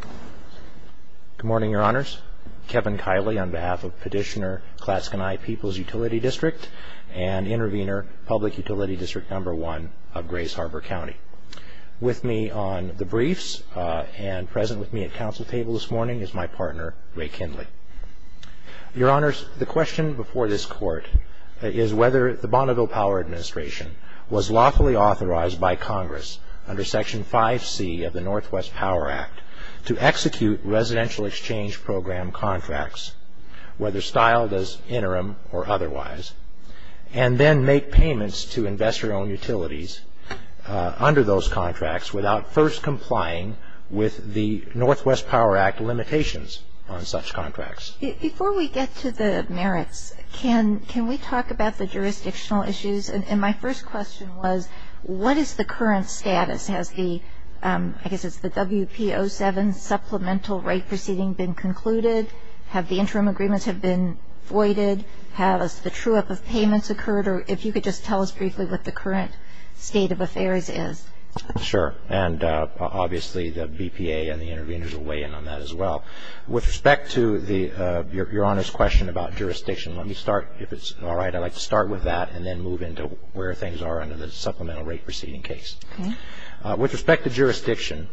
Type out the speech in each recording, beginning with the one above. Good morning, Your Honors. Kevin Kiley on behalf of Petitioner Clatskanie Peoples Utility District and Intervenor Public Utility District No. 1 of Grace Harbor County. With me on the briefs and present with me at council table this morning is my partner, Ray Kindly. Your Honors, the question before this court is whether the Bonneville Power Administration was lawfully authorized by Congress under Section 5C of the Northwest Power Act to execute residential exchange program contracts, whether styled as interim or otherwise, and then make payments to investor-owned utilities under those contracts without first complying with the Northwest Power Act limitations on such contracts. Before we get to the merits, can we talk about the jurisdictional issues? And my first question was, what is the current status? Has the, I guess it's the WPO7 supplemental right proceeding been concluded? Have the interim agreements have been voided? Has the true-up of payments occurred? Or if you could just tell us briefly what the current state of affairs is. Sure. And obviously the BPA and the intervenors will weigh in on that as well. With respect to the, Your Honors' question about jurisdiction, let me start. If it's all right, I'd like to start with that and then move into where things are under the supplemental right proceeding case. With respect to jurisdiction,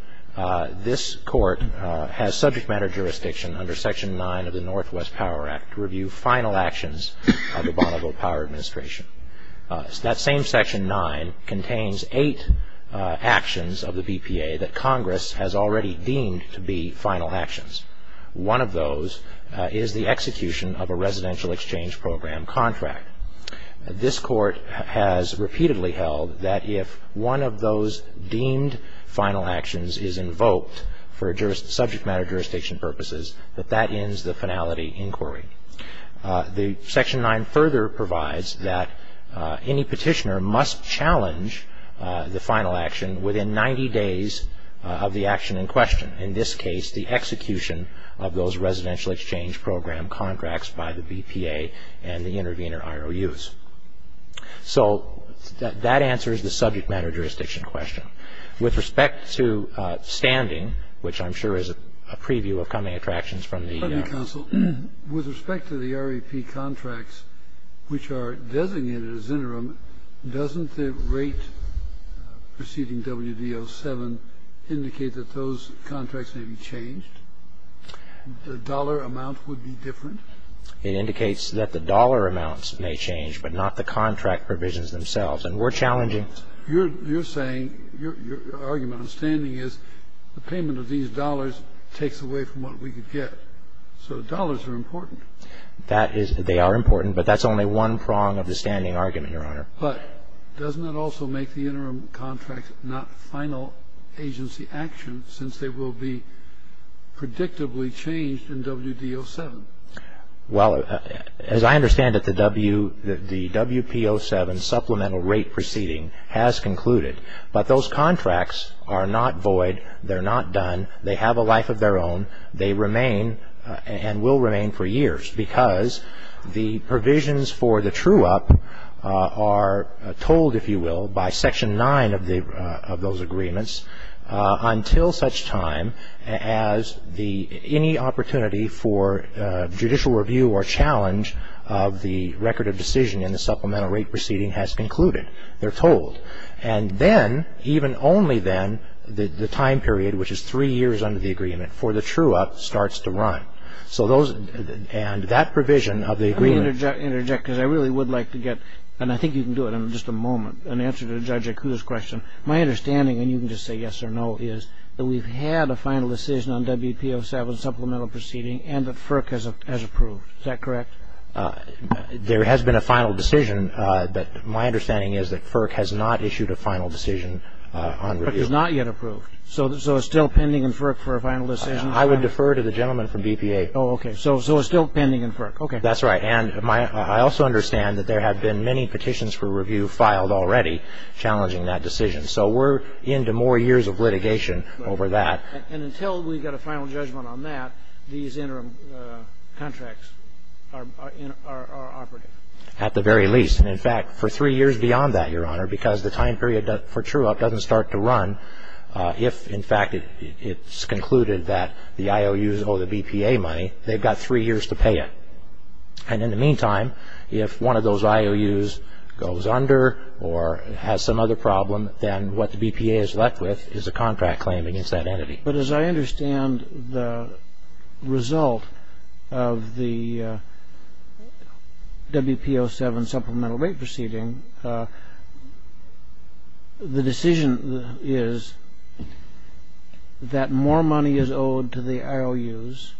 this court has subject matter jurisdiction under Section 9 of the Northwest Power Act to review final actions of the Bonneville Power Administration. That same Section 9 contains eight actions of the BPA that Congress has already deemed to be final actions. One of those is the execution of a residential exchange program contract. This court has repeatedly held that if one of those deemed final actions is invoked for subject matter jurisdiction purposes, that that ends the finality inquiry. The Section 9 further provides that any petitioner must challenge the final action within 90 days of the action in question. In this case, the execution of those residential exchange program contracts by the BPA and the intervenor IOUs. So that answers the subject matter jurisdiction question. With respect to standing, which I'm sure is a preview of coming attractions from the- It indicates that the dollar amounts may change, but not the contract provisions themselves. And we're challenging- You're saying, your argument on standing is the payment of these dollars takes away from what we could get. So dollars are important. That is, they are important, but that's only one prong of the standing argument, Your Honor. But doesn't it also make the interim contract not final agency action since they will be in effect predictably changed in WD-07? Well, as I understand it, the WP-07 supplemental rate proceeding has concluded. But those contracts are not void. They're not done. They have a life of their own. They remain and will remain for years because the provisions for the true-up are told, if you will, by Section 9 of those agreements until such time as any opportunity for judicial review or challenge of the record of decision in the supplemental rate proceeding has concluded. They're told. And then, even only then, the time period, which is three years under the agreement, for the true-up starts to run. And that provision of the agreement- Let me interject because I really would like to get, and I think you can do it in just a moment, an answer to Judge Akuda's question. My understanding, and you can just say yes or no, is that we've had a final decision on WP-07 supplemental proceeding and that FERC has approved. Is that correct? There has been a final decision, but my understanding is that FERC has not issued a final decision on review. FERC is not yet approved. So it's still pending in FERC for a final decision? I would defer to the gentleman from BPA. Oh, okay. So it's still pending in FERC. That's right. And I also understand that there have been many petitions for review filed already challenging that decision. So we're into more years of litigation over that. And until we get a final judgment on that, these interim contracts are operative? At the very least. And, in fact, for three years beyond that, Your Honor, because the time period for true-up doesn't start to run, if, in fact, it's concluded that the IOUs owe the BPA money, they've got three years to pay it. And in the meantime, if one of those IOUs goes under or has some other problem, then what the BPA is left with is a contract claim against that entity. But as I understand the result of the WPO7 supplemental rate proceeding, the decision is that more money is owed to the IOUs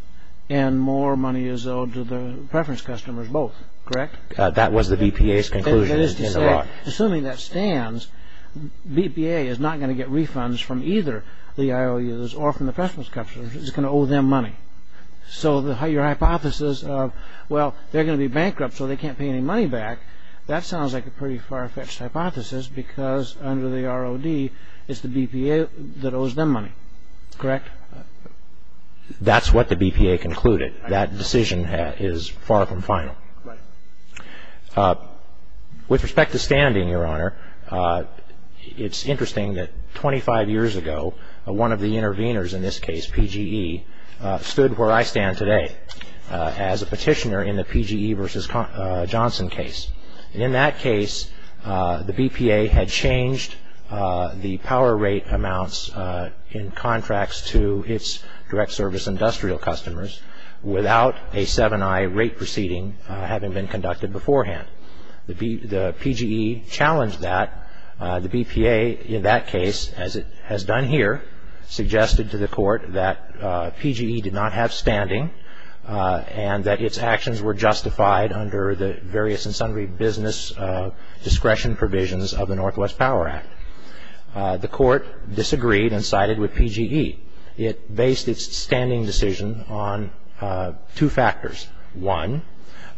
and more money is owed to the preference customers both, correct? That was the BPA's conclusion. Assuming that stands, BPA is not going to get refunds from either the IOUs or from the preference customers. It's going to owe them money. So your hypothesis of, well, they're going to be bankrupt so they can't pay any money back, that sounds like a pretty far-fetched hypothesis because under the ROD, it's the BPA that owes them money, correct? That's what the BPA concluded. That decision is far from final. With respect to standing, Your Honor, it's interesting that 25 years ago, one of the intervenors in this case, PGE, stood where I stand today as a petitioner in the PGE v. Johnson case. In that case, the BPA had changed the power rate amounts in contracts to its direct service industrial customers without a 7i rate proceeding having been conducted beforehand. The PGE challenged that. The BPA in that case, as it has done here, suggested to the Court that PGE did not have standing and that its actions were justified under the various and sundry business discretion provisions of the Northwest Power Act. The Court disagreed and sided with PGE. It based its standing decision on two factors. One,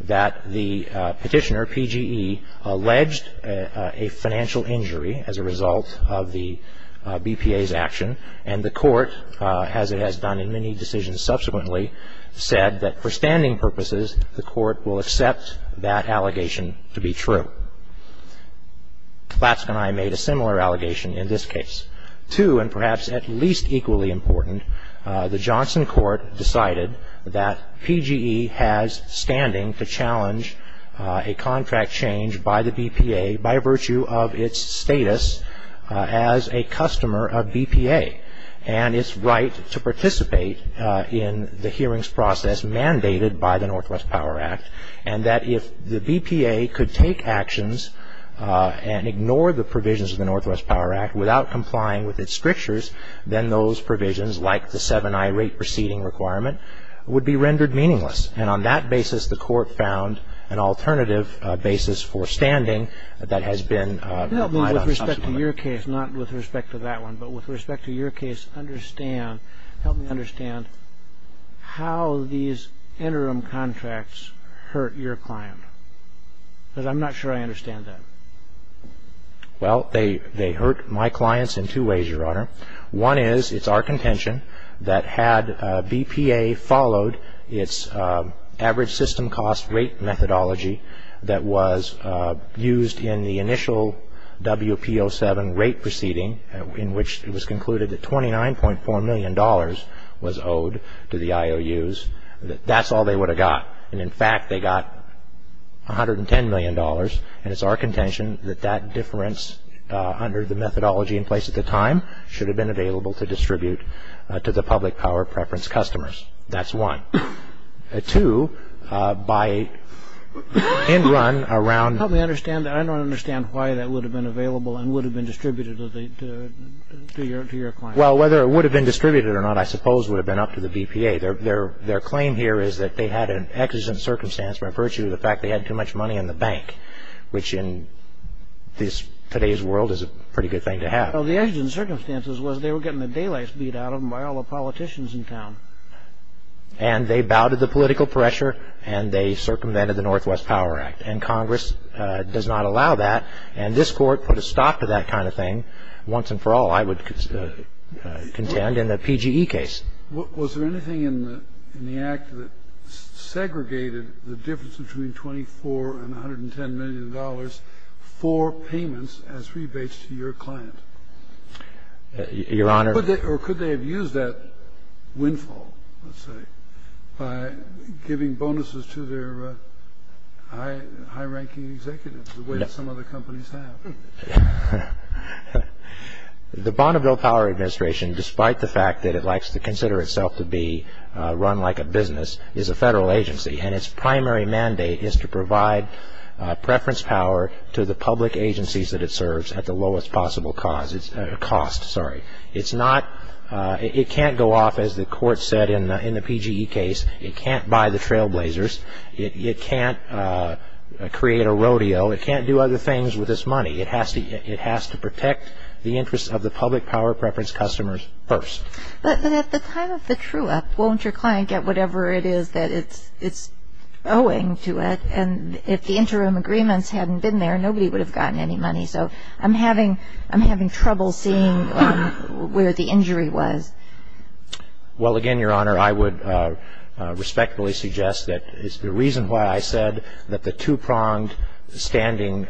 that the petitioner, PGE, alleged a financial injury as a result of the BPA's action, and the Court, as it has done in many decisions subsequently, said that for standing purposes the Court will accept that allegation to be true. Laskin and I made a similar allegation in this case. Two, and perhaps at least equally important, the Johnson Court decided that PGE has standing to challenge a contract change by the BPA by virtue of its status as a customer of BPA and its right to participate in the hearings process mandated by the Northwest Power Act, and that if the BPA could take actions and ignore the provisions of the Northwest Power Act without complying with its strictures, then those provisions, like the 7i rate proceeding requirement, would be rendered meaningless. And on that basis the Court found an alternative basis for standing that has been lied on subsequently. Can you help me with respect to your case, not with respect to that one, but with respect to your case understand, help me understand how these interim contracts hurt your client? Because I'm not sure I understand that. Well, they hurt my clients in two ways, Your Honor. One is it's our contention that had BPA followed its average system cost rate methodology that was used in the initial WPO7 rate proceeding in which it was concluded that $29.4 million was owed to the IOUs, that that's all they would have got. And, in fact, they got $110 million, and it's our contention that that difference under the methodology in place at the time should have been available to distribute to the public power preference customers. That's one. Two, by end run around the Help me understand. I don't understand why that would have been available and would have been distributed to your client. Well, whether it would have been distributed or not, I suppose, would have been up to the BPA. Their claim here is that they had an exigent circumstance by virtue of the fact they had too much money in the bank, which in today's world is a pretty good thing to have. Well, the exigent circumstances was they were getting the daylights beat out of them by all the politicians in town. And they bowed to the political pressure, and they circumvented the Northwest Power Act, and Congress does not allow that, and this Court put a stop to that kind of thing once and for all, I would contend, in the PGE case. Was there anything in the act that segregated the difference between $24 and $110 million for payments as rebates to your client? Your Honor. Or could they have used that windfall, let's say, by giving bonuses to their high-ranking executives the way that some other companies have? The Bonneville Power Administration, despite the fact that it likes to consider itself to be run like a business, is a federal agency, and its primary mandate is to provide preference power to the public agencies that it serves at the lowest possible cost. It can't go off, as the Court said in the PGE case. It can't buy the trailblazers. It can't create a rodeo. It can't do other things with this money. It has to protect the interests of the public power preference customers first. But at the time of the true act, won't your client get whatever it is that it's owing to it? And if the interim agreements hadn't been there, nobody would have gotten any money. So I'm having trouble seeing where the injury was. Well, again, Your Honor, I would respectfully suggest that it's the reason why I said that the two-pronged standing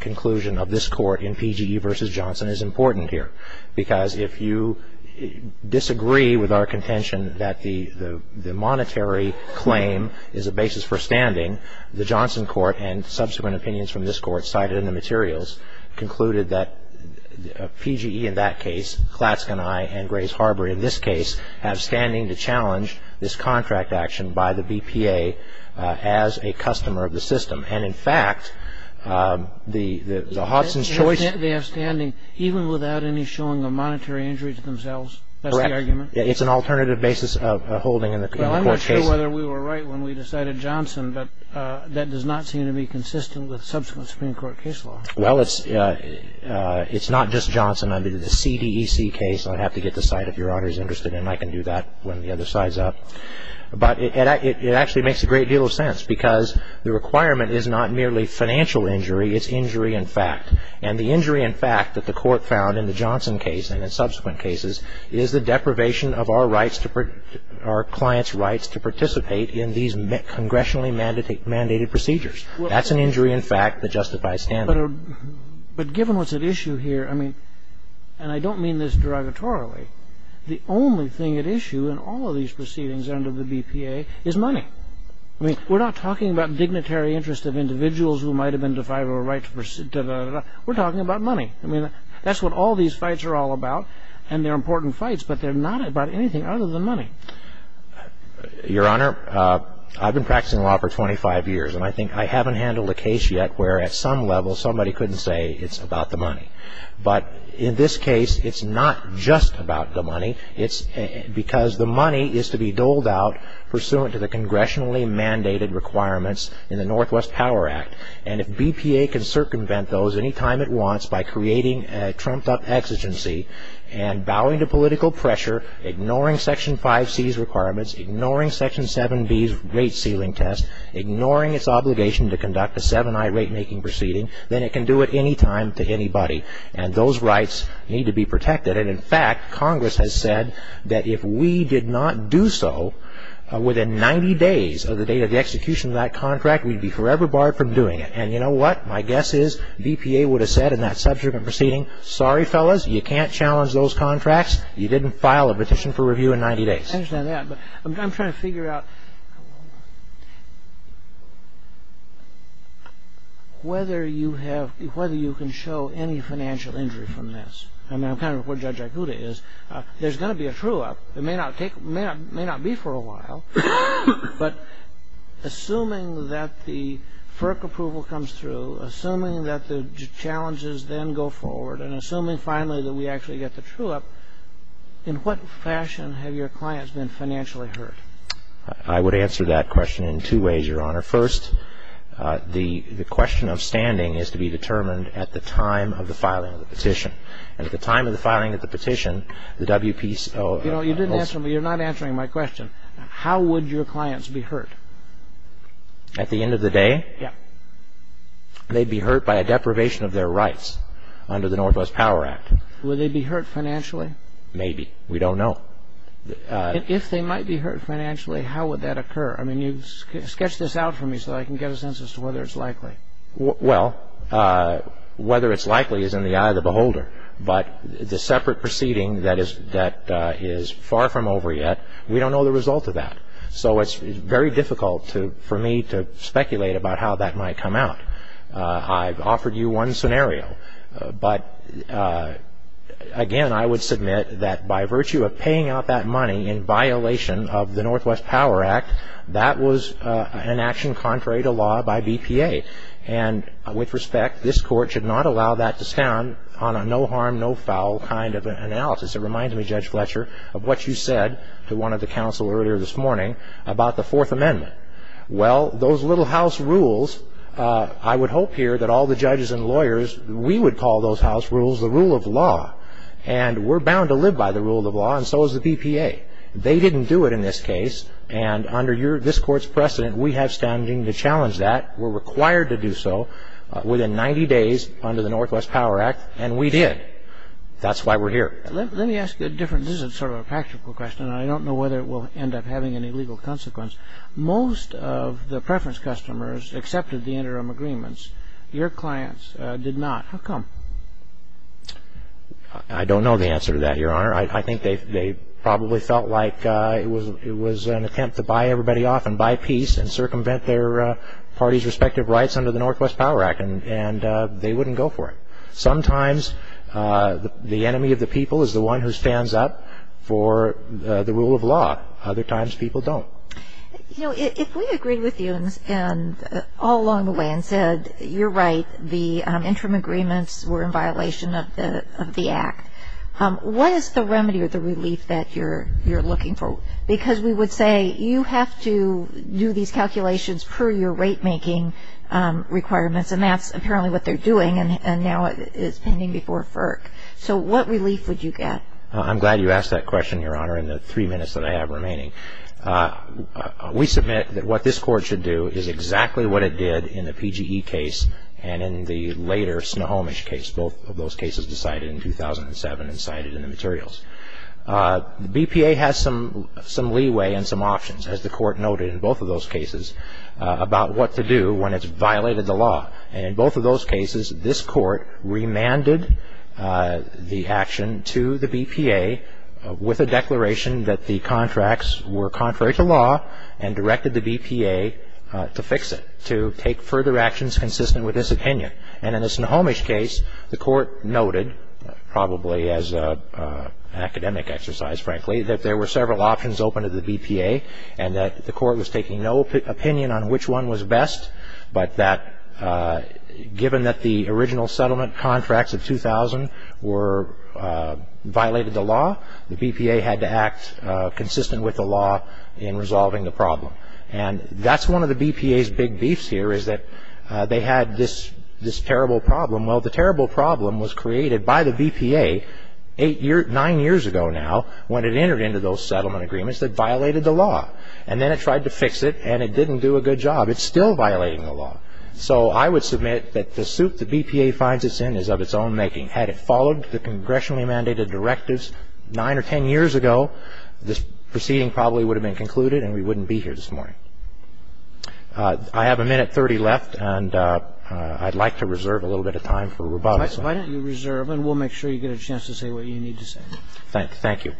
conclusion of this Court in PGE v. Johnson is important here, because if you disagree with our contention that the monetary claim is a basis for standing, the Johnson Court and subsequent opinions from this Court cited in the materials concluded that PGE in that case, Klatske and I, and Grays Harbor in this case, have standing to challenge this contract action by the BPA as a customer of the system. And, in fact, the Hodgson's choice of their standing, even without any showing of monetary injury to themselves, that's the argument? Correct. It's an alternative basis of holding in the court case. Well, I'm not sure whether we were right when we decided Johnson, but that does not seem to be consistent with subsequent Supreme Court case law. Well, it's not just Johnson. I mean, the CDEC case, I'd have to get the site if Your Honor's interested in. I can do that when the other side's up. But it actually makes a great deal of sense, because the requirement is not merely financial injury. It's injury in fact. And the injury in fact that the Court found in the Johnson case and in subsequent cases is the deprivation of our rights to – our clients' rights to participate in these congressionally mandated procedures. That's an injury in fact that justifies standing. But given what's at issue here, I mean, and I don't mean this derogatorily, the only thing at issue in all of these proceedings under the BPA is money. I mean, we're not talking about dignitary interest of individuals who might have been defiled or right to – we're talking about money. I mean, that's what all these fights are all about, and they're important fights, but they're not about anything other than money. Your Honor, I've been practicing law for 25 years, and I think I haven't handled a case yet where at some level somebody couldn't say it's about the money. But in this case, it's not just about the money. It's because the money is to be doled out pursuant to the congressionally mandated requirements in the Northwest Power Act, and if BPA can circumvent those any time it wants by creating a trumped-up exigency and bowing to political pressure, ignoring Section 5C's requirements, ignoring Section 7B's rate ceiling test, ignoring its obligation to conduct a 7I rate-making proceeding, then it can do it any time to anybody, and those rights need to be protected. And in fact, Congress has said that if we did not do so within 90 days of the date of the execution of that contract, we'd be forever barred from doing it. And you know what? My guess is BPA would have said in that subsequent proceeding, sorry, fellas, you can't challenge those contracts. You didn't file a petition for review in 90 days. I understand that, but I'm trying to figure out whether you can show any financial injury from this. I mean, I'm kind of where Judge Aikuda is. There's going to be a true-up. It may not be for a while, but assuming that the FERC approval comes through, assuming that the challenges then go forward, and assuming finally that we actually get the true-up, in what fashion have your clients been financially hurt? I would answer that question in two ways, Your Honor. First, the question of standing is to be determined at the time of the filing of the petition. And at the time of the filing of the petition, the WPCO... You know, you didn't answer me. You're not answering my question. How would your clients be hurt? At the end of the day? Yeah. They'd be hurt by a deprivation of their rights under the Northwest Power Act. Would they be hurt financially? Maybe. We don't know. If they might be hurt financially, how would that occur? I mean, sketch this out for me so I can get a sense as to whether it's likely. Well, whether it's likely is in the eye of the beholder. But the separate proceeding that is far from over yet, we don't know the result of that. So it's very difficult for me to speculate about how that might come out. I've offered you one scenario. But, again, I would submit that by virtue of paying out that money in violation of the Northwest Power Act, that was an action contrary to law by BPA. And with respect, this Court should not allow that to stand on a no harm, no foul kind of analysis. It reminds me, Judge Fletcher, of what you said to one of the counsel earlier this morning about the Fourth Amendment. Well, those little house rules, I would hope here that all the judges and lawyers, we would call those house rules the rule of law. And we're bound to live by the rule of law, and so is the BPA. They didn't do it in this case. And under this Court's precedent, we have standing to challenge that. We're required to do so within 90 days under the Northwest Power Act, and we did. That's why we're here. Let me ask a different, this is sort of a practical question. I don't know whether it will end up having any legal consequence. Most of the preference customers accepted the interim agreements. Your clients did not. How come? I don't know the answer to that, Your Honor. I think they probably felt like it was an attempt to buy everybody off and buy peace and circumvent their parties' respective rights under the Northwest Power Act, and they wouldn't go for it. Sometimes the enemy of the people is the one who stands up for the rule of law. Other times people don't. You know, if we agreed with you all along the way and said, you're right, the interim agreements were in violation of the Act, what is the remedy or the relief that you're looking for? Because we would say you have to do these calculations per your rate-making requirements, and that's apparently what they're doing, and now it's pending before FERC. So what relief would you get? I'm glad you asked that question, Your Honor, in the three minutes that I have remaining. We submit that what this Court should do is exactly what it did in the PGE case and in the later Snohomish case, both of those cases decided in 2007 and cited in the materials. The BPA has some leeway and some options, as the Court noted in both of those cases, about what to do when it's violated the law. And in both of those cases, this Court remanded the action to the BPA with a declaration that the contracts were contrary to law and directed the BPA to fix it, to take further actions consistent with this opinion. And in the Snohomish case, the Court noted, probably as an academic exercise, frankly, that there were several options open to the BPA and that the Court was taking no opinion on which one was best, but that given that the original settlement contracts of 2000 violated the law, the BPA had to act consistent with the law in resolving the problem. And that's one of the BPA's big beefs here is that they had this terrible problem. Well, the terrible problem was created by the BPA nine years ago now when it entered into those settlement agreements that violated the law. And then it tried to fix it, and it didn't do a good job. It's still violating the law. So I would submit that the suit the BPA finds itself in is of its own making. Had it followed the congressionally mandated directives nine or ten years ago, this proceeding probably would have been concluded and we wouldn't be here this morning. I have a minute 30 left, and I'd like to reserve a little bit of time for rebuttals. Why don't you reserve, and we'll make sure you get a chance to say what you need to say. Thank you.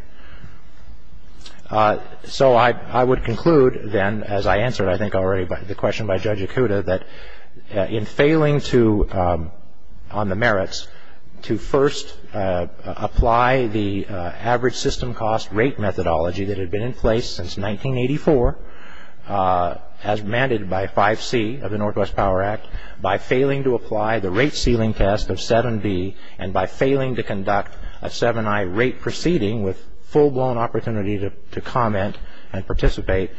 So I would conclude then, as I answered I think already the question by Judge Ikuda, that in failing on the merits to first apply the average system cost rate methodology that had been in place since 1984 as mandated by 5C of the Northwest Power Act, by failing to apply the rate ceiling test of 7B, and by failing to conduct a 7I rate proceeding with full-blown opportunity to comment and participate,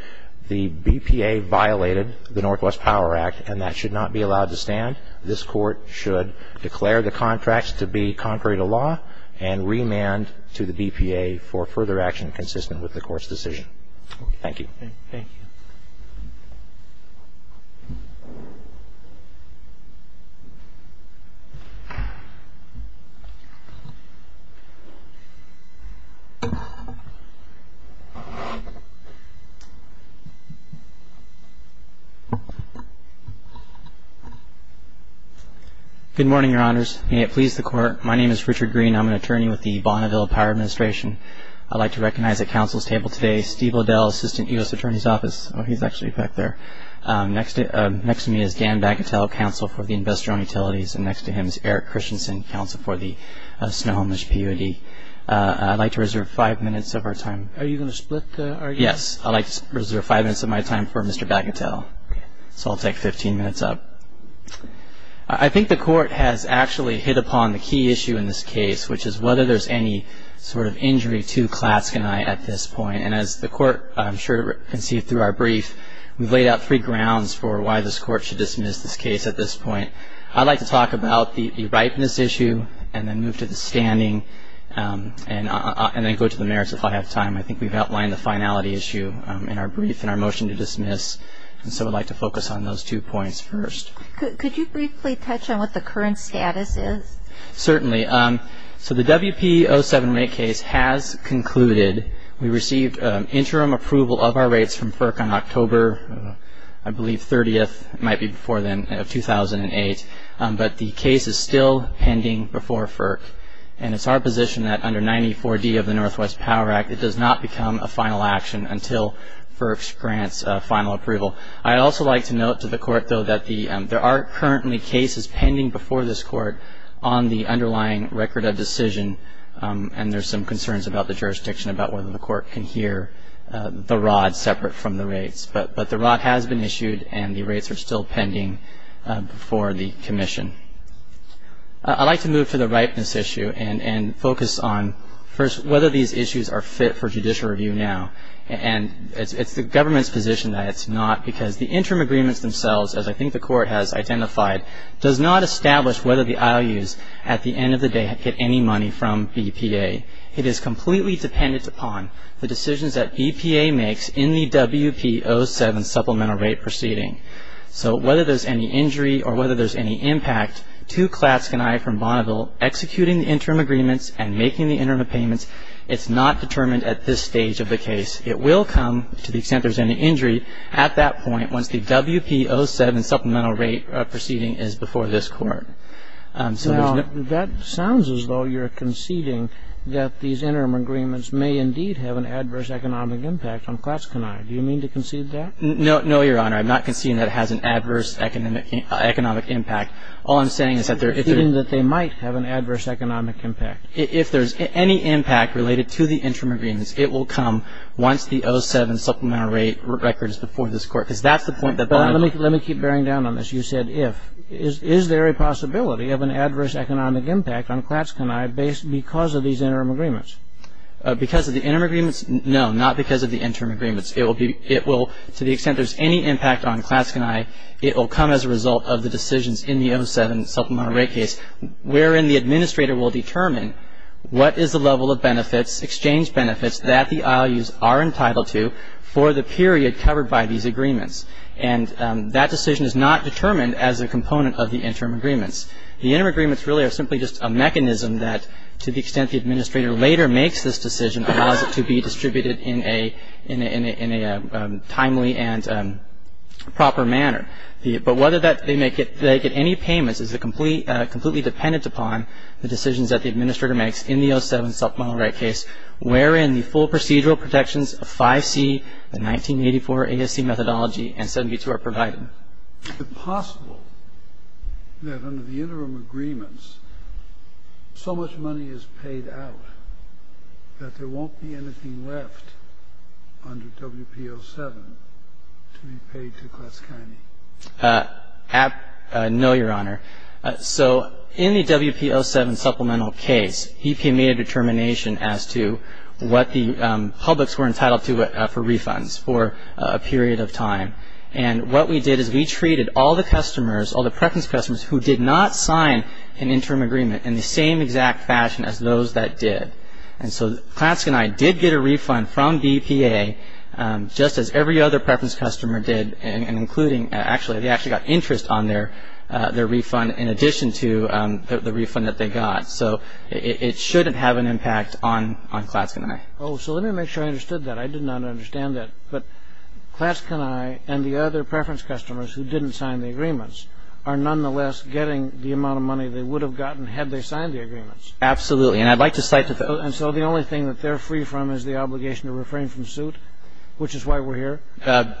the BPA violated the Northwest Power Act, and that should not be allowed to stand. This Court should declare the contracts to be contrary to law and remand to the BPA for further action consistent with the Court's decision. Thank you. Thank you. Thank you. Good morning, Your Honors. May it please the Court, my name is Richard Green. I'm an attorney with the Bonneville Power Administration. I'd like to recognize at Council's table today Steve Liddell, Assistant U.S. Attorney's Office. Oh, he's actually back there. Next to me is Dan Bagatelle, Counsel for the Investor-Owned Utilities, and next to him is Eric Christensen, Counsel for the Snow-Homeless P.U.D. I'd like to reserve five minutes of our time. Are you going to split our time? Yes, I'd like to reserve five minutes of my time for Mr. Bagatelle. Okay. So I'll take 15 minutes up. I think the Court has actually hit upon the key issue in this case, which is whether there's any sort of injury to Klatske and I at this point. And as the Court, I'm sure, conceived through our brief, we've laid out three grounds for why this Court should dismiss this case at this point. I'd like to talk about the ripeness issue and then move to the standing and then go to the merits if I have time. I think we've outlined the finality issue in our brief and our motion to dismiss, and so I'd like to focus on those two points first. Could you briefly touch on what the current status is? Certainly. So the WP-07 rate case has concluded. We received interim approval of our rates from FERC on October, I believe, 30th. That might be before then, of 2008. But the case is still pending before FERC, and it's our position that under 94D of the Northwest Power Act, it does not become a final action until FERC grants final approval. I'd also like to note to the Court, though, that there are currently cases pending before this Court on the underlying record of decision, and there's some concerns about the jurisdiction, about whether the Court can hear the rod separate from the rates. But the rod has been issued, and the rates are still pending before the Commission. I'd like to move to the ripeness issue and focus on first whether these issues are fit for judicial review now. And it's the government's position that it's not because the interim agreements themselves, as I think the Court has identified, does not establish whether the IOUs at the end of the day get any money from BPA. It is completely dependent upon the decisions that BPA makes in the WP-07 supplemental rate proceeding. So whether there's any injury or whether there's any impact to Klatske and I from Bonneville executing the interim agreements and making the interim payments, it's not determined at this stage of the case. It will come to the extent there's any injury at that point once the WP-07 supplemental rate proceeding is before this Court. So there's no Now, that sounds as though you're conceding that these interim agreements may indeed have an adverse economic impact on Klatske and I. Do you mean to concede that? No, Your Honor. I'm not conceding that it has an adverse economic impact. All I'm saying is that there You're conceding that they might have an adverse economic impact. If there's any impact related to the interim agreements, it will come once the 07 supplemental rate record is before this Court, because that's the point that Bonneville Let me keep bearing down on this. You said if. Is there a possibility of an adverse economic impact on Klatske and I because of these interim agreements? Because of the interim agreements? No, not because of the interim agreements. It will, to the extent there's any impact on Klatske and I, it will come as a result of the decisions in the 07 supplemental rate case wherein the administrator will determine what is the level of benefits, exchange benefits, that the IOUs are entitled to for the period covered by these agreements. And that decision is not determined as a component of the interim agreements. The interim agreements really are simply just a mechanism that, to the extent the administrator later makes this decision, allows it to be distributed in a timely and proper manner. But whether they get any payments is completely dependent upon the decisions that the administrator makes in the 07 supplemental rate case wherein the full procedural protections of 5C, the 1984 ASC methodology, and 72 are provided. Is it possible that under the interim agreements so much money is paid out that there won't be anything left under WPO7 to be paid to Klatske and I? No, Your Honor. So in the WPO7 supplemental case, EPA made a determination as to what the publics were entitled to for refunds for a period of time. And what we did is we treated all the customers, all the preference customers, who did not sign an interim agreement in the same exact fashion as those that did. And so Klatske and I did get a refund from EPA, just as every other preference customer did, and they actually got interest on their refund in addition to the refund that they got. So it shouldn't have an impact on Klatske and I. Oh, so let me make sure I understood that. I did not understand that. But Klatske and I and the other preference customers who didn't sign the agreements are nonetheless getting the amount of money they would have gotten had they signed the agreements. Absolutely. And so the only thing that they're free from is the obligation to refrain from suit, which is why we're here?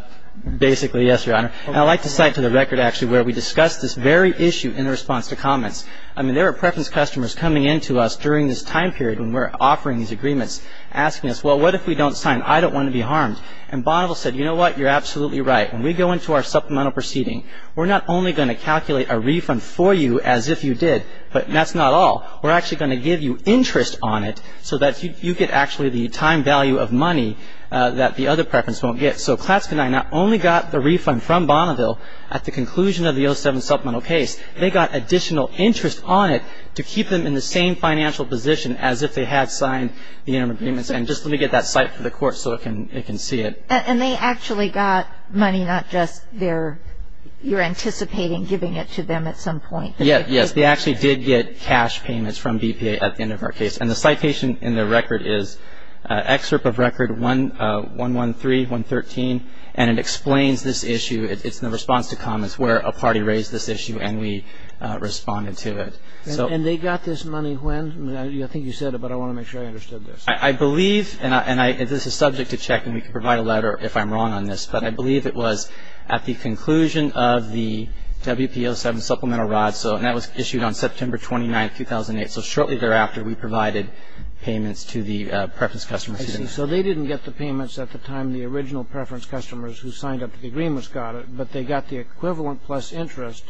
Basically, yes, Your Honor. And I'd like to cite to the record actually where we discussed this very issue in response to comments. I mean, there are preference customers coming in to us during this time period when we're offering these agreements asking us, well, what if we don't sign? I don't want to be harmed. And Bonneville said, you know what, you're absolutely right. When we go into our supplemental proceeding, we're not only going to calculate a refund for you as if you did, but that's not all. We're actually going to give you interest on it so that you get actually the time value of money that the other preference won't get. So Klatske and I not only got the refund from Bonneville at the conclusion of the 07 supplemental case, they got additional interest on it to keep them in the same financial position as if they had signed the interim agreements. And just let me get that cite for the court so it can see it. And they actually got money, not just you're anticipating giving it to them at some point. Yes. They actually did get cash payments from BPA at the end of our case. And the citation in the record is excerpt of record 113, 113. And it explains this issue. It's in the response to comments where a party raised this issue and we responded to it. And they got this money when? I think you said it, but I want to make sure I understood this. I believe, and this is subject to check, and we can provide a letter if I'm wrong on this, but I believe it was at the conclusion of the WPO7 supplemental rod. And that was issued on September 29, 2008. So shortly thereafter, we provided payments to the preference customers. I see. So they didn't get the payments at the time the original preference customers who signed up to the agreement got it, but they got the equivalent plus interest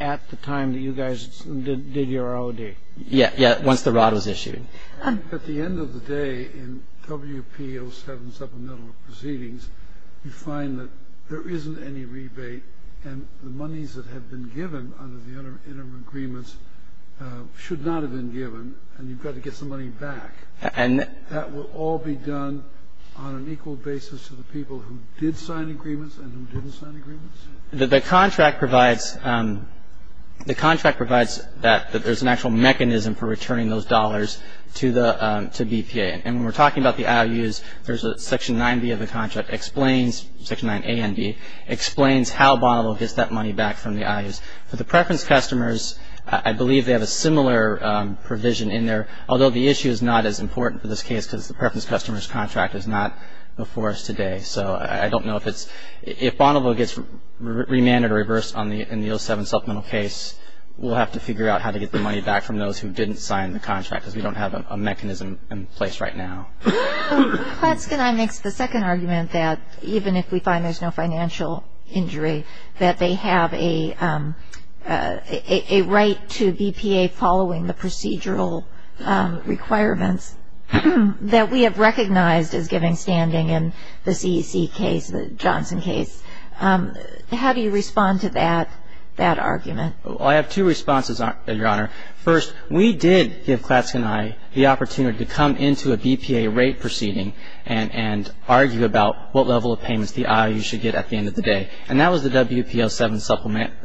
at the time that you guys did your ROD. Yes. Once the rod was issued. At the end of the day, in WPO7 supplemental proceedings, you find that there isn't any rebate. And the monies that have been given under the interim agreements should not have been given, and you've got to get some money back. And that will all be done on an equal basis to the people who did sign agreements and who didn't sign agreements? The contract provides that there's an actual mechanism for returning those dollars to BPA. And when we're talking about the IOUs, there's a Section 9B of the contract, Section 9A and B, explains how Bonneville gets that money back from the IOUs. For the preference customers, I believe they have a similar provision in there, although the issue is not as important for this case because the preference customers' contract is not before us today. So I don't know if it's – if Bonneville gets remanded or reversed in the O7 supplemental case, we'll have to figure out how to get the money back from those who didn't sign the contract because we don't have a mechanism in place right now. Klatske and I mix the second argument that even if we find there's no financial injury, that they have a right to BPA following the procedural requirements that we have recognized as giving standing in the CEC case, the Johnson case. How do you respond to that argument? First, we did give Klatske and I the opportunity to come into a BPA rate proceeding and argue about what level of payments the IOUs should get at the end of the day. And that was the WPO7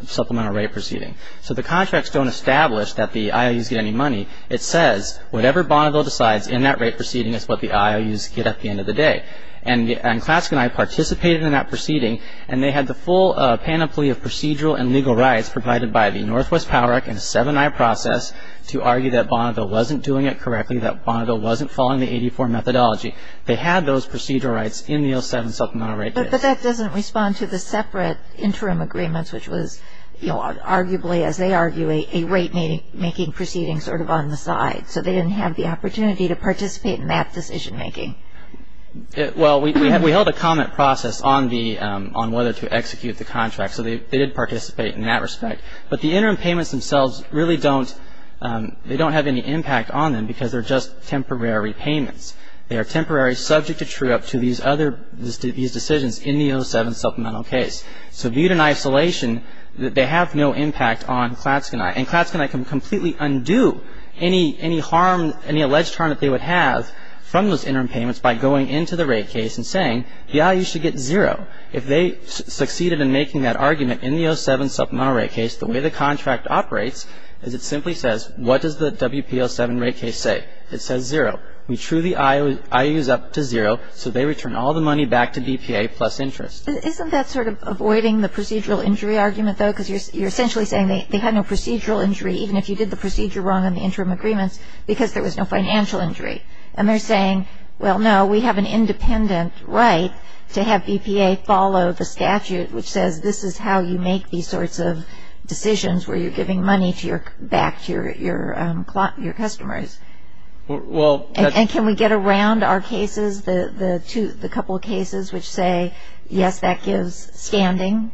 supplemental rate proceeding. So the contracts don't establish that the IOUs get any money. It says whatever Bonneville decides in that rate proceeding is what the IOUs get at the end of the day. And Klatske and I participated in that proceeding and they had the full panoply of procedural and legal rights provided by the Northwest Power Act and 7i process to argue that Bonneville wasn't doing it correctly, that Bonneville wasn't following the 84 methodology. They had those procedural rights in the O7 supplemental rate case. But that doesn't respond to the separate interim agreements, which was arguably, as they argue, a rate making proceeding sort of on the side. So they didn't have the opportunity to participate in that decision making. Well, we held a comment process on whether to execute the contract. So they did participate in that respect. But the interim payments themselves really don't have any impact on them because they're just temporary payments. They are temporary, subject to true-up to these decisions in the O7 supplemental case. So viewed in isolation, they have no impact on Klatske and I. And Klatske and I can completely undo any alleged harm that they would have from those interim payments by going into the rate case and saying the IOUs should get zero. If they succeeded in making that argument in the O7 supplemental rate case, the way the contract operates is it simply says, what does the WPO7 rate case say? It says zero. We true the IOUs up to zero so they return all the money back to BPA plus interest. Isn't that sort of avoiding the procedural injury argument, though? Because you're essentially saying they had no procedural injury, even if you did the procedure wrong in the interim agreements, because there was no financial injury. And they're saying, well, no, we have an independent right to have BPA follow the statute which says this is how you make these sorts of decisions where you're giving money back to your customers. And can we get around our cases, the couple of cases which say, yes, that gives standing?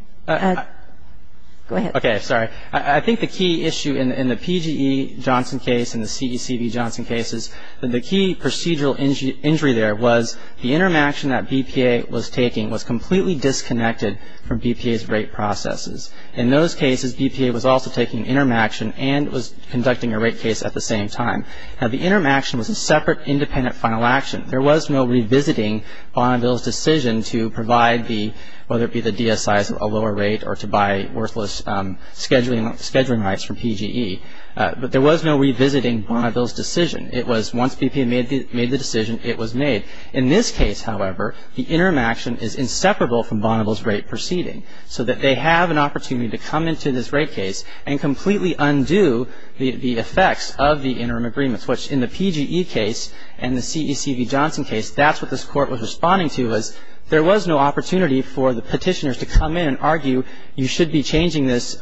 Go ahead. Okay, sorry. I think the key issue in the PGE Johnson case and the CECB Johnson cases, the key procedural injury there was the interim action that BPA was taking was completely disconnected from BPA's rate processes. In those cases, BPA was also taking interim action and was conducting a rate case at the same time. Now, the interim action was a separate independent final action. There was no revisiting Bonneville's decision to provide the, whether it be the DSIs, a lower rate, or to buy worthless scheduling rights from PGE. But there was no revisiting Bonneville's decision. It was once BPA made the decision, it was made. In this case, however, the interim action is inseparable from Bonneville's rate proceeding so that they have an opportunity to come into this rate case and completely undo the effects of the interim agreements, which in the PGE case and the CECB Johnson case, that's what this Court was responding to was there was no opportunity for the petitioners to come in and argue you should be changing this,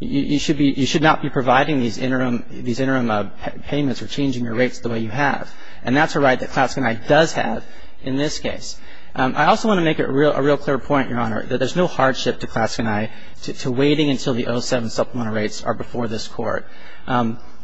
you should not be providing these interim payments or changing your rates the way you have. And that's a right that Klaske and I does have in this case. I also want to make a real clear point, Your Honor, that there's no hardship to Klaske and I to waiting until the 07 supplemental rates are before this Court.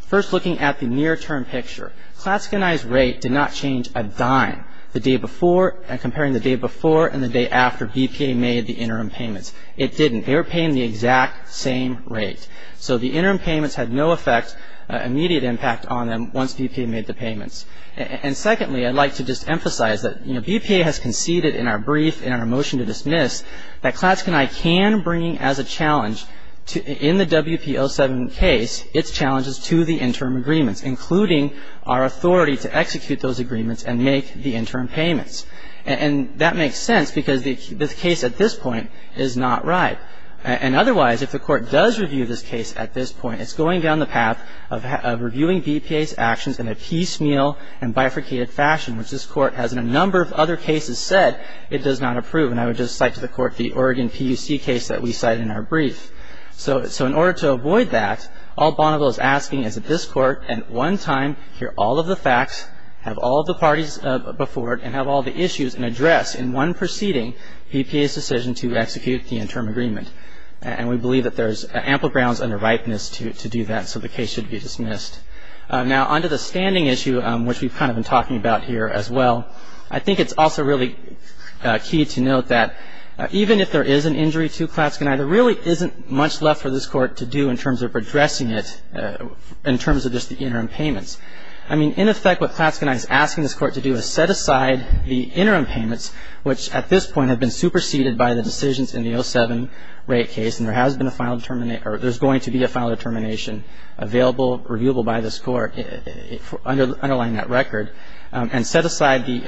First, looking at the near-term picture, Klaske and I's rate did not change a dime the day before and comparing the day before and the day after BPA made the interim payments. It didn't. They were paying the exact same rate. So the interim payments had no effect, immediate impact on them once BPA made the payments. And secondly, I'd like to just emphasize that BPA has conceded in our brief and our motion to dismiss that Klaske and I can bring as a challenge in the WPO7 case its challenges to the interim agreements, including our authority to execute those agreements and make the interim payments. And that makes sense because the case at this point is not right. And otherwise, if the Court does review this case at this point, it's going down the path of reviewing BPA's actions in a piecemeal and bifurcated fashion, which this Court has in a number of other cases said it does not approve. And I would just cite to the Court the Oregon PUC case that we cite in our brief. So in order to avoid that, all Bonneville is asking is that this Court at one time hear all of the facts, have all of the parties before it, and have all of the issues and address in one proceeding BPA's decision to execute the interim agreement. And we believe that there's ample grounds under ripeness to do that, so the case should be dismissed. Now, on to the standing issue, which we've kind of been talking about here as well. I think it's also really key to note that even if there is an injury to Klatskanai, there really isn't much left for this Court to do in terms of addressing it in terms of just the interim payments. I mean, in effect, what Klatskanai is asking this Court to do is set aside the interim payments, which at this point have been superseded by the decisions in the 07 rate case, and there has been a final determination or there's going to be a final determination available, reviewable by this Court underlying that record, and set aside the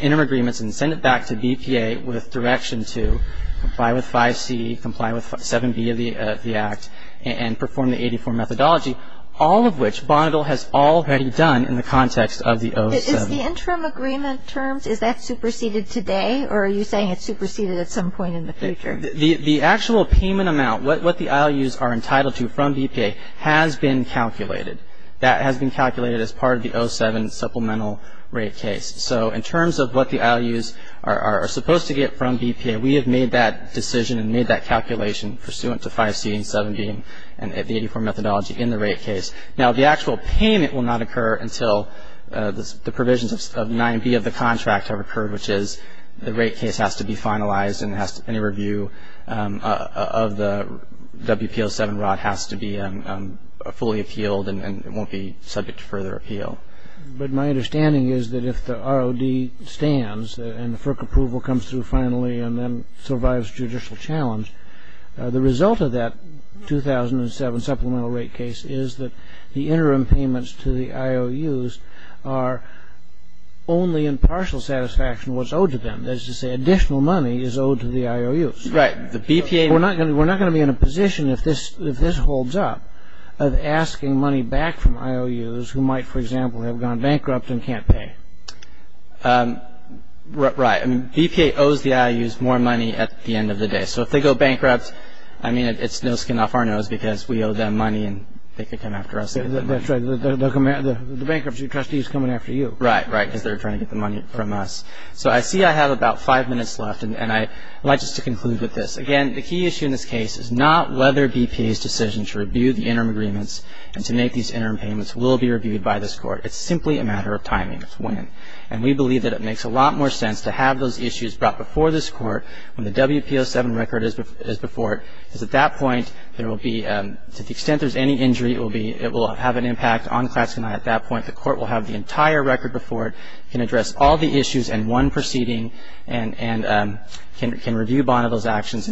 interim agreements and send it back to BPA with direction to comply with 5C, comply with 7B of the Act, and perform the 84 methodology, all of which Bonneville has already done in the context of the 07. Is the interim agreement terms, is that superseded today, or are you saying it's superseded at some point in the future? The actual payment amount, what the IOUs are entitled to from BPA has been calculated. That has been calculated as part of the 07 supplemental rate case. So in terms of what the IOUs are supposed to get from BPA, we have made that decision and made that calculation pursuant to 5C and 7B and the 84 methodology in the rate case. Now, the actual payment will not occur until the provisions of 9B of the contract have occurred, which is the rate case has to be finalized and any review of the WPO7 rod has to be fully appealed and won't be subject to further appeal. But my understanding is that if the ROD stands and the FERC approval comes through finally and then survives judicial challenge, the result of that 2007 supplemental rate case is that the interim payments to the IOUs are only in partial satisfaction what's owed to them. That is to say, additional money is owed to the IOUs. We're not going to be in a position, if this holds up, of asking money back from IOUs who might, for example, have gone bankrupt and can't pay. Right. BPA owes the IOUs more money at the end of the day. So if they go bankrupt, it's no skin off our nose because we owe them money and they can come after us. That's right. The bankruptcy trustee is coming after you. Right, right, because they're trying to get the money from us. So I see I have about five minutes left, and I'd like just to conclude with this. Again, the key issue in this case is not whether BPA's decision to review the interim agreements and to make these interim payments will be reviewed by this Court. It's simply a matter of timing. It's when. And we believe that it makes a lot more sense to have those issues brought before this Court when the WPO7 record is before it, because at that point, there will be, to the extent there's any injury, it will be, it will have an impact on Klaxonite at that point. The Court will have the entire record before it, can address all the issues in one proceeding, and can review Bonneville's actions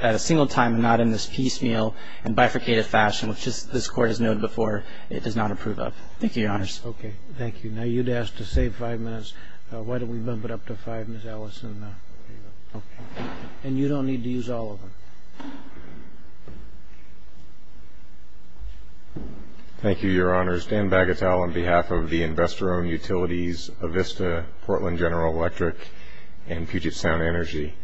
at a single time and not in this piecemeal and bifurcated fashion, which this Court has known before it does not approve of. Thank you, Your Honors. Okay. Thank you. Now, you'd ask to save five minutes. Why don't we bump it up to five, Ms. Allison? Okay. And you don't need to use all of them. Thank you, Your Honors. Dan Bagatel on behalf of the Investor-Owned Utilities, Avista, Portland General Electric, and Puget Sound Energy.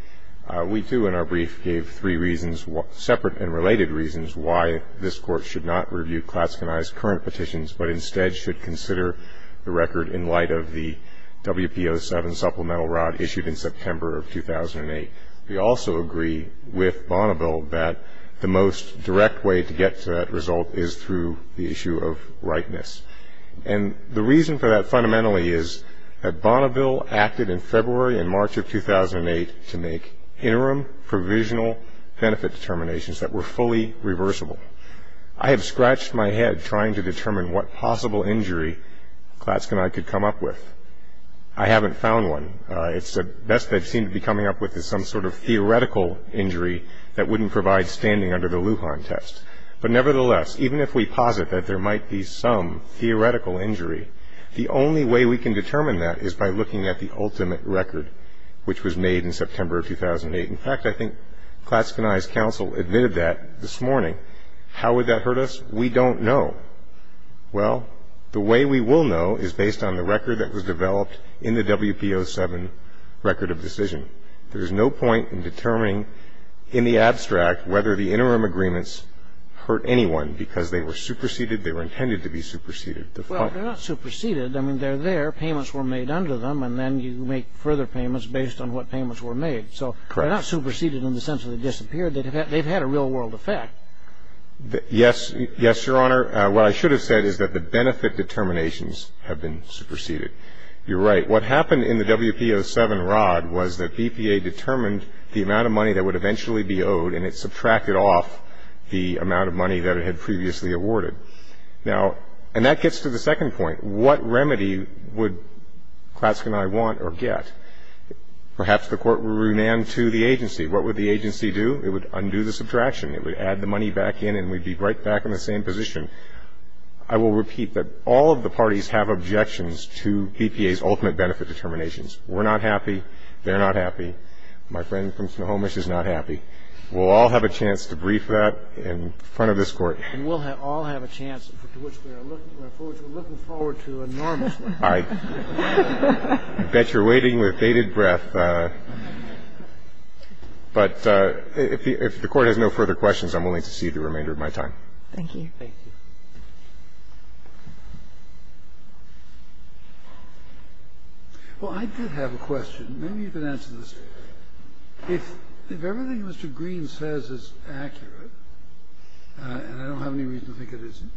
We, too, in our brief gave three reasons, separate and related reasons, why this Court should not review Klaxonite's current petitions, but instead should consider the record in light of the WPO7 supplemental rod issued in September of 2008. We also agree with Bonneville that the most direct way to get to that result is through the issue of rightness. And the reason for that fundamentally is that Bonneville acted in February and March of 2008 to make interim provisional benefit determinations that were fully reversible. I have scratched my head trying to determine what possible injury Klaxonite could come up with. I haven't found one. The best they seem to be coming up with is some sort of theoretical injury that wouldn't provide standing under the Lujan test. But nevertheless, even if we posit that there might be some theoretical injury, the only way we can determine that is by looking at the ultimate record, which was made in September of 2008. In fact, I think Klaxonite's counsel admitted that this morning. How would that hurt us? We don't know. Well, the way we will know is based on the record that was developed in the WPO7 record of decision. There is no point in determining in the abstract whether the interim agreements hurt anyone because they were superseded, they were intended to be superseded. They're fine. Well, they're not superseded. I mean, they're there. Payments were made under them, and then you make further payments based on what payments were made. So they're not superseded in the sense that they disappeared. They've had a real-world effect. Yes. Yes, Your Honor. What I should have said is that the benefit determinations have been superseded. You're right. What happened in the WPO7 rod was that BPA determined the amount of money that would eventually be owed, and it subtracted off the amount of money that it had previously awarded. Now, and that gets to the second point. What remedy would Klaxonite want or get? Perhaps the Court would run into the agency. What would the agency do? It would undo the subtraction. It would add the money back in, and we'd be right back in the same position. I will repeat that all of the parties have objections to BPA's ultimate benefit determinations. We're not happy. They're not happy. My friend from Snohomish is not happy. We'll all have a chance to brief that in front of this Court. And we'll all have a chance to which we're looking forward to enormously. All right. I bet you're waiting with bated breath. But if the Court has no further questions, I'm willing to cede the remainder of my time. Thank you. Thank you. Well, I did have a question. Maybe you can answer this. If everything Mr. Green says is accurate, and I don't have any reason to think it isn't,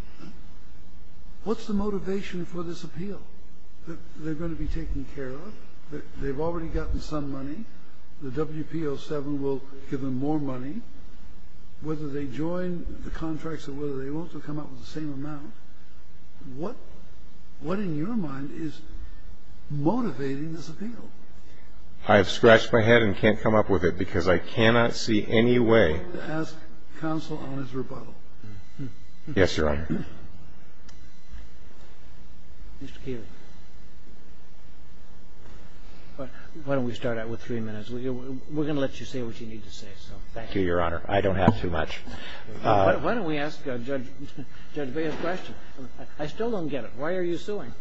what's the motivation for this appeal? They're going to be taken care of. They've already gotten some money. The WPO7 will give them more money. Whether they join the contracts or whether they won't will come up with the same amount. What in your mind is motivating this appeal? I have scratched my head and can't come up with it because I cannot see any way. I'm going to ask counsel on his rebuttal. Yes, Your Honor. Mr. Keeley. Why don't we start out with three minutes? We're going to let you say what you need to say. Thank you, Your Honor. I don't have too much. Why don't we ask Judge Bea's question? I still don't get it. Why are you suing?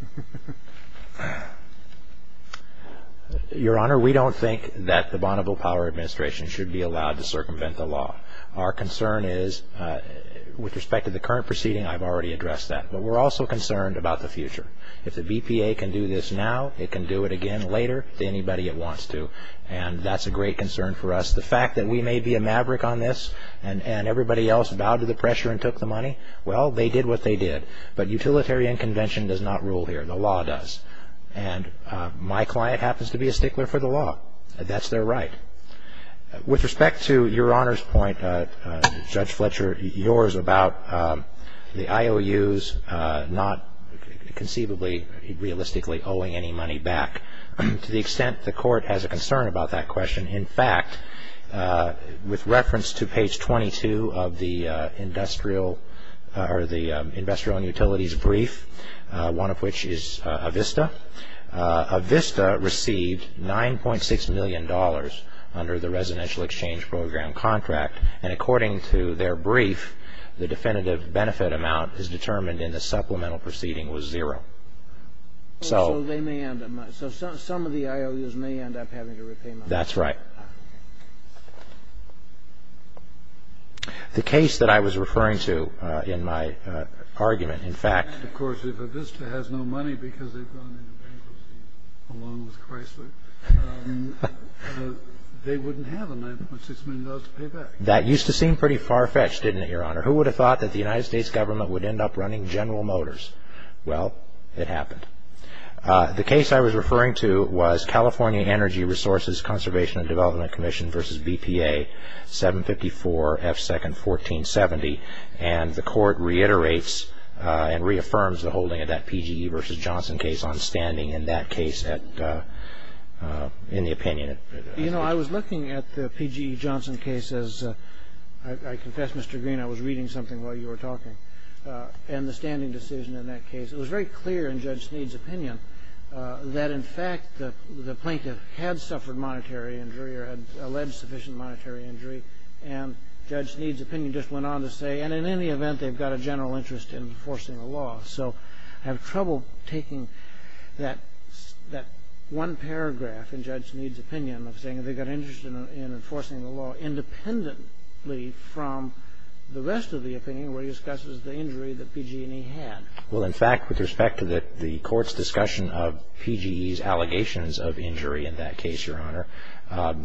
Your Honor, we don't think that the Bonneville Power Administration should be allowed to circumvent the law. Our concern is, with respect to the current proceeding, I've already addressed that. But we're also concerned about the future. If the BPA can do this now, it can do it again later to anybody it wants to. And that's a great concern for us. The fact that we may be a maverick on this and everybody else bowed to the pressure and took the money, well, they did what they did. But utilitarian convention does not rule here. The law does. And my client happens to be a stickler for the law. That's their right. With respect to Your Honor's point, Judge Fletcher, yours, about the IOUs not conceivably realistically owing any money back, to the extent the Court has a concern about that question. In fact, with reference to page 22 of the industrial utilities brief, one of which is Avista, Avista received $9.6 million under the residential exchange program contract. And according to their brief, the definitive benefit amount as determined in the supplemental proceeding was zero. So some of the IOUs may end up having to repay money. That's right. The case that I was referring to in my argument, in fact, of course, if Avista has no money because they've gone into bankruptcy along with Chrysler, they wouldn't have $9.6 million to pay back. That used to seem pretty far-fetched, didn't it, Your Honor? Who would have thought that the United States government would end up running General Motors? Well, it happened. The case I was referring to was California Energy Resources Conservation and Development Commission v. BPA, 754 F. 2nd, 1470. And the Court reiterates and reaffirms the holding of that PGE v. Johnson case on standing in that case in the opinion. You know, I was looking at the PGE-Johnson case, as I confess, Mr. Green, I was reading something while you were talking, and the standing decision in that case. It was very clear in Judge Sneed's opinion that, in fact, the plaintiff had suffered monetary injury or had alleged sufficient monetary injury. And Judge Sneed's opinion just went on to say, and in any event, they've got a general interest in enforcing the law. So I have trouble taking that one paragraph in Judge Sneed's opinion of saying they've got interest in enforcing the law independently from the rest of the opinion where he discusses the injury that PG&E had. Well, in fact, with respect to the Court's discussion of PG&E's allegations of injury in that case, Your Honor,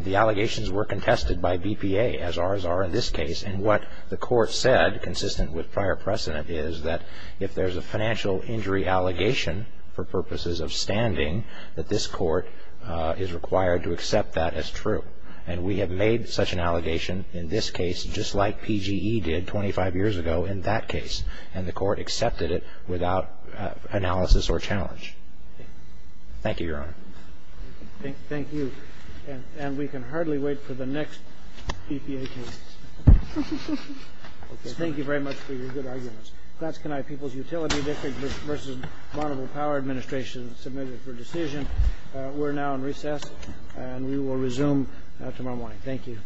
the allegations were contested by BPA, as ours are in this case. And what the Court said, consistent with prior precedent, is that if there's a financial injury allegation for purposes of standing, that this Court is required to accept that as true. And we have made such an allegation in this case just like PG&E did 25 years ago in that case. And the Court accepted it without analysis or challenge. Thank you, Your Honor. Thank you. And we can hardly wait for the next BPA case. Thank you very much for your good arguments. That's tonight, People's Utility District v. Bonneville Power Administration submitted for decision. We're now in recess, and we will resume tomorrow morning. Thank you. Thank you.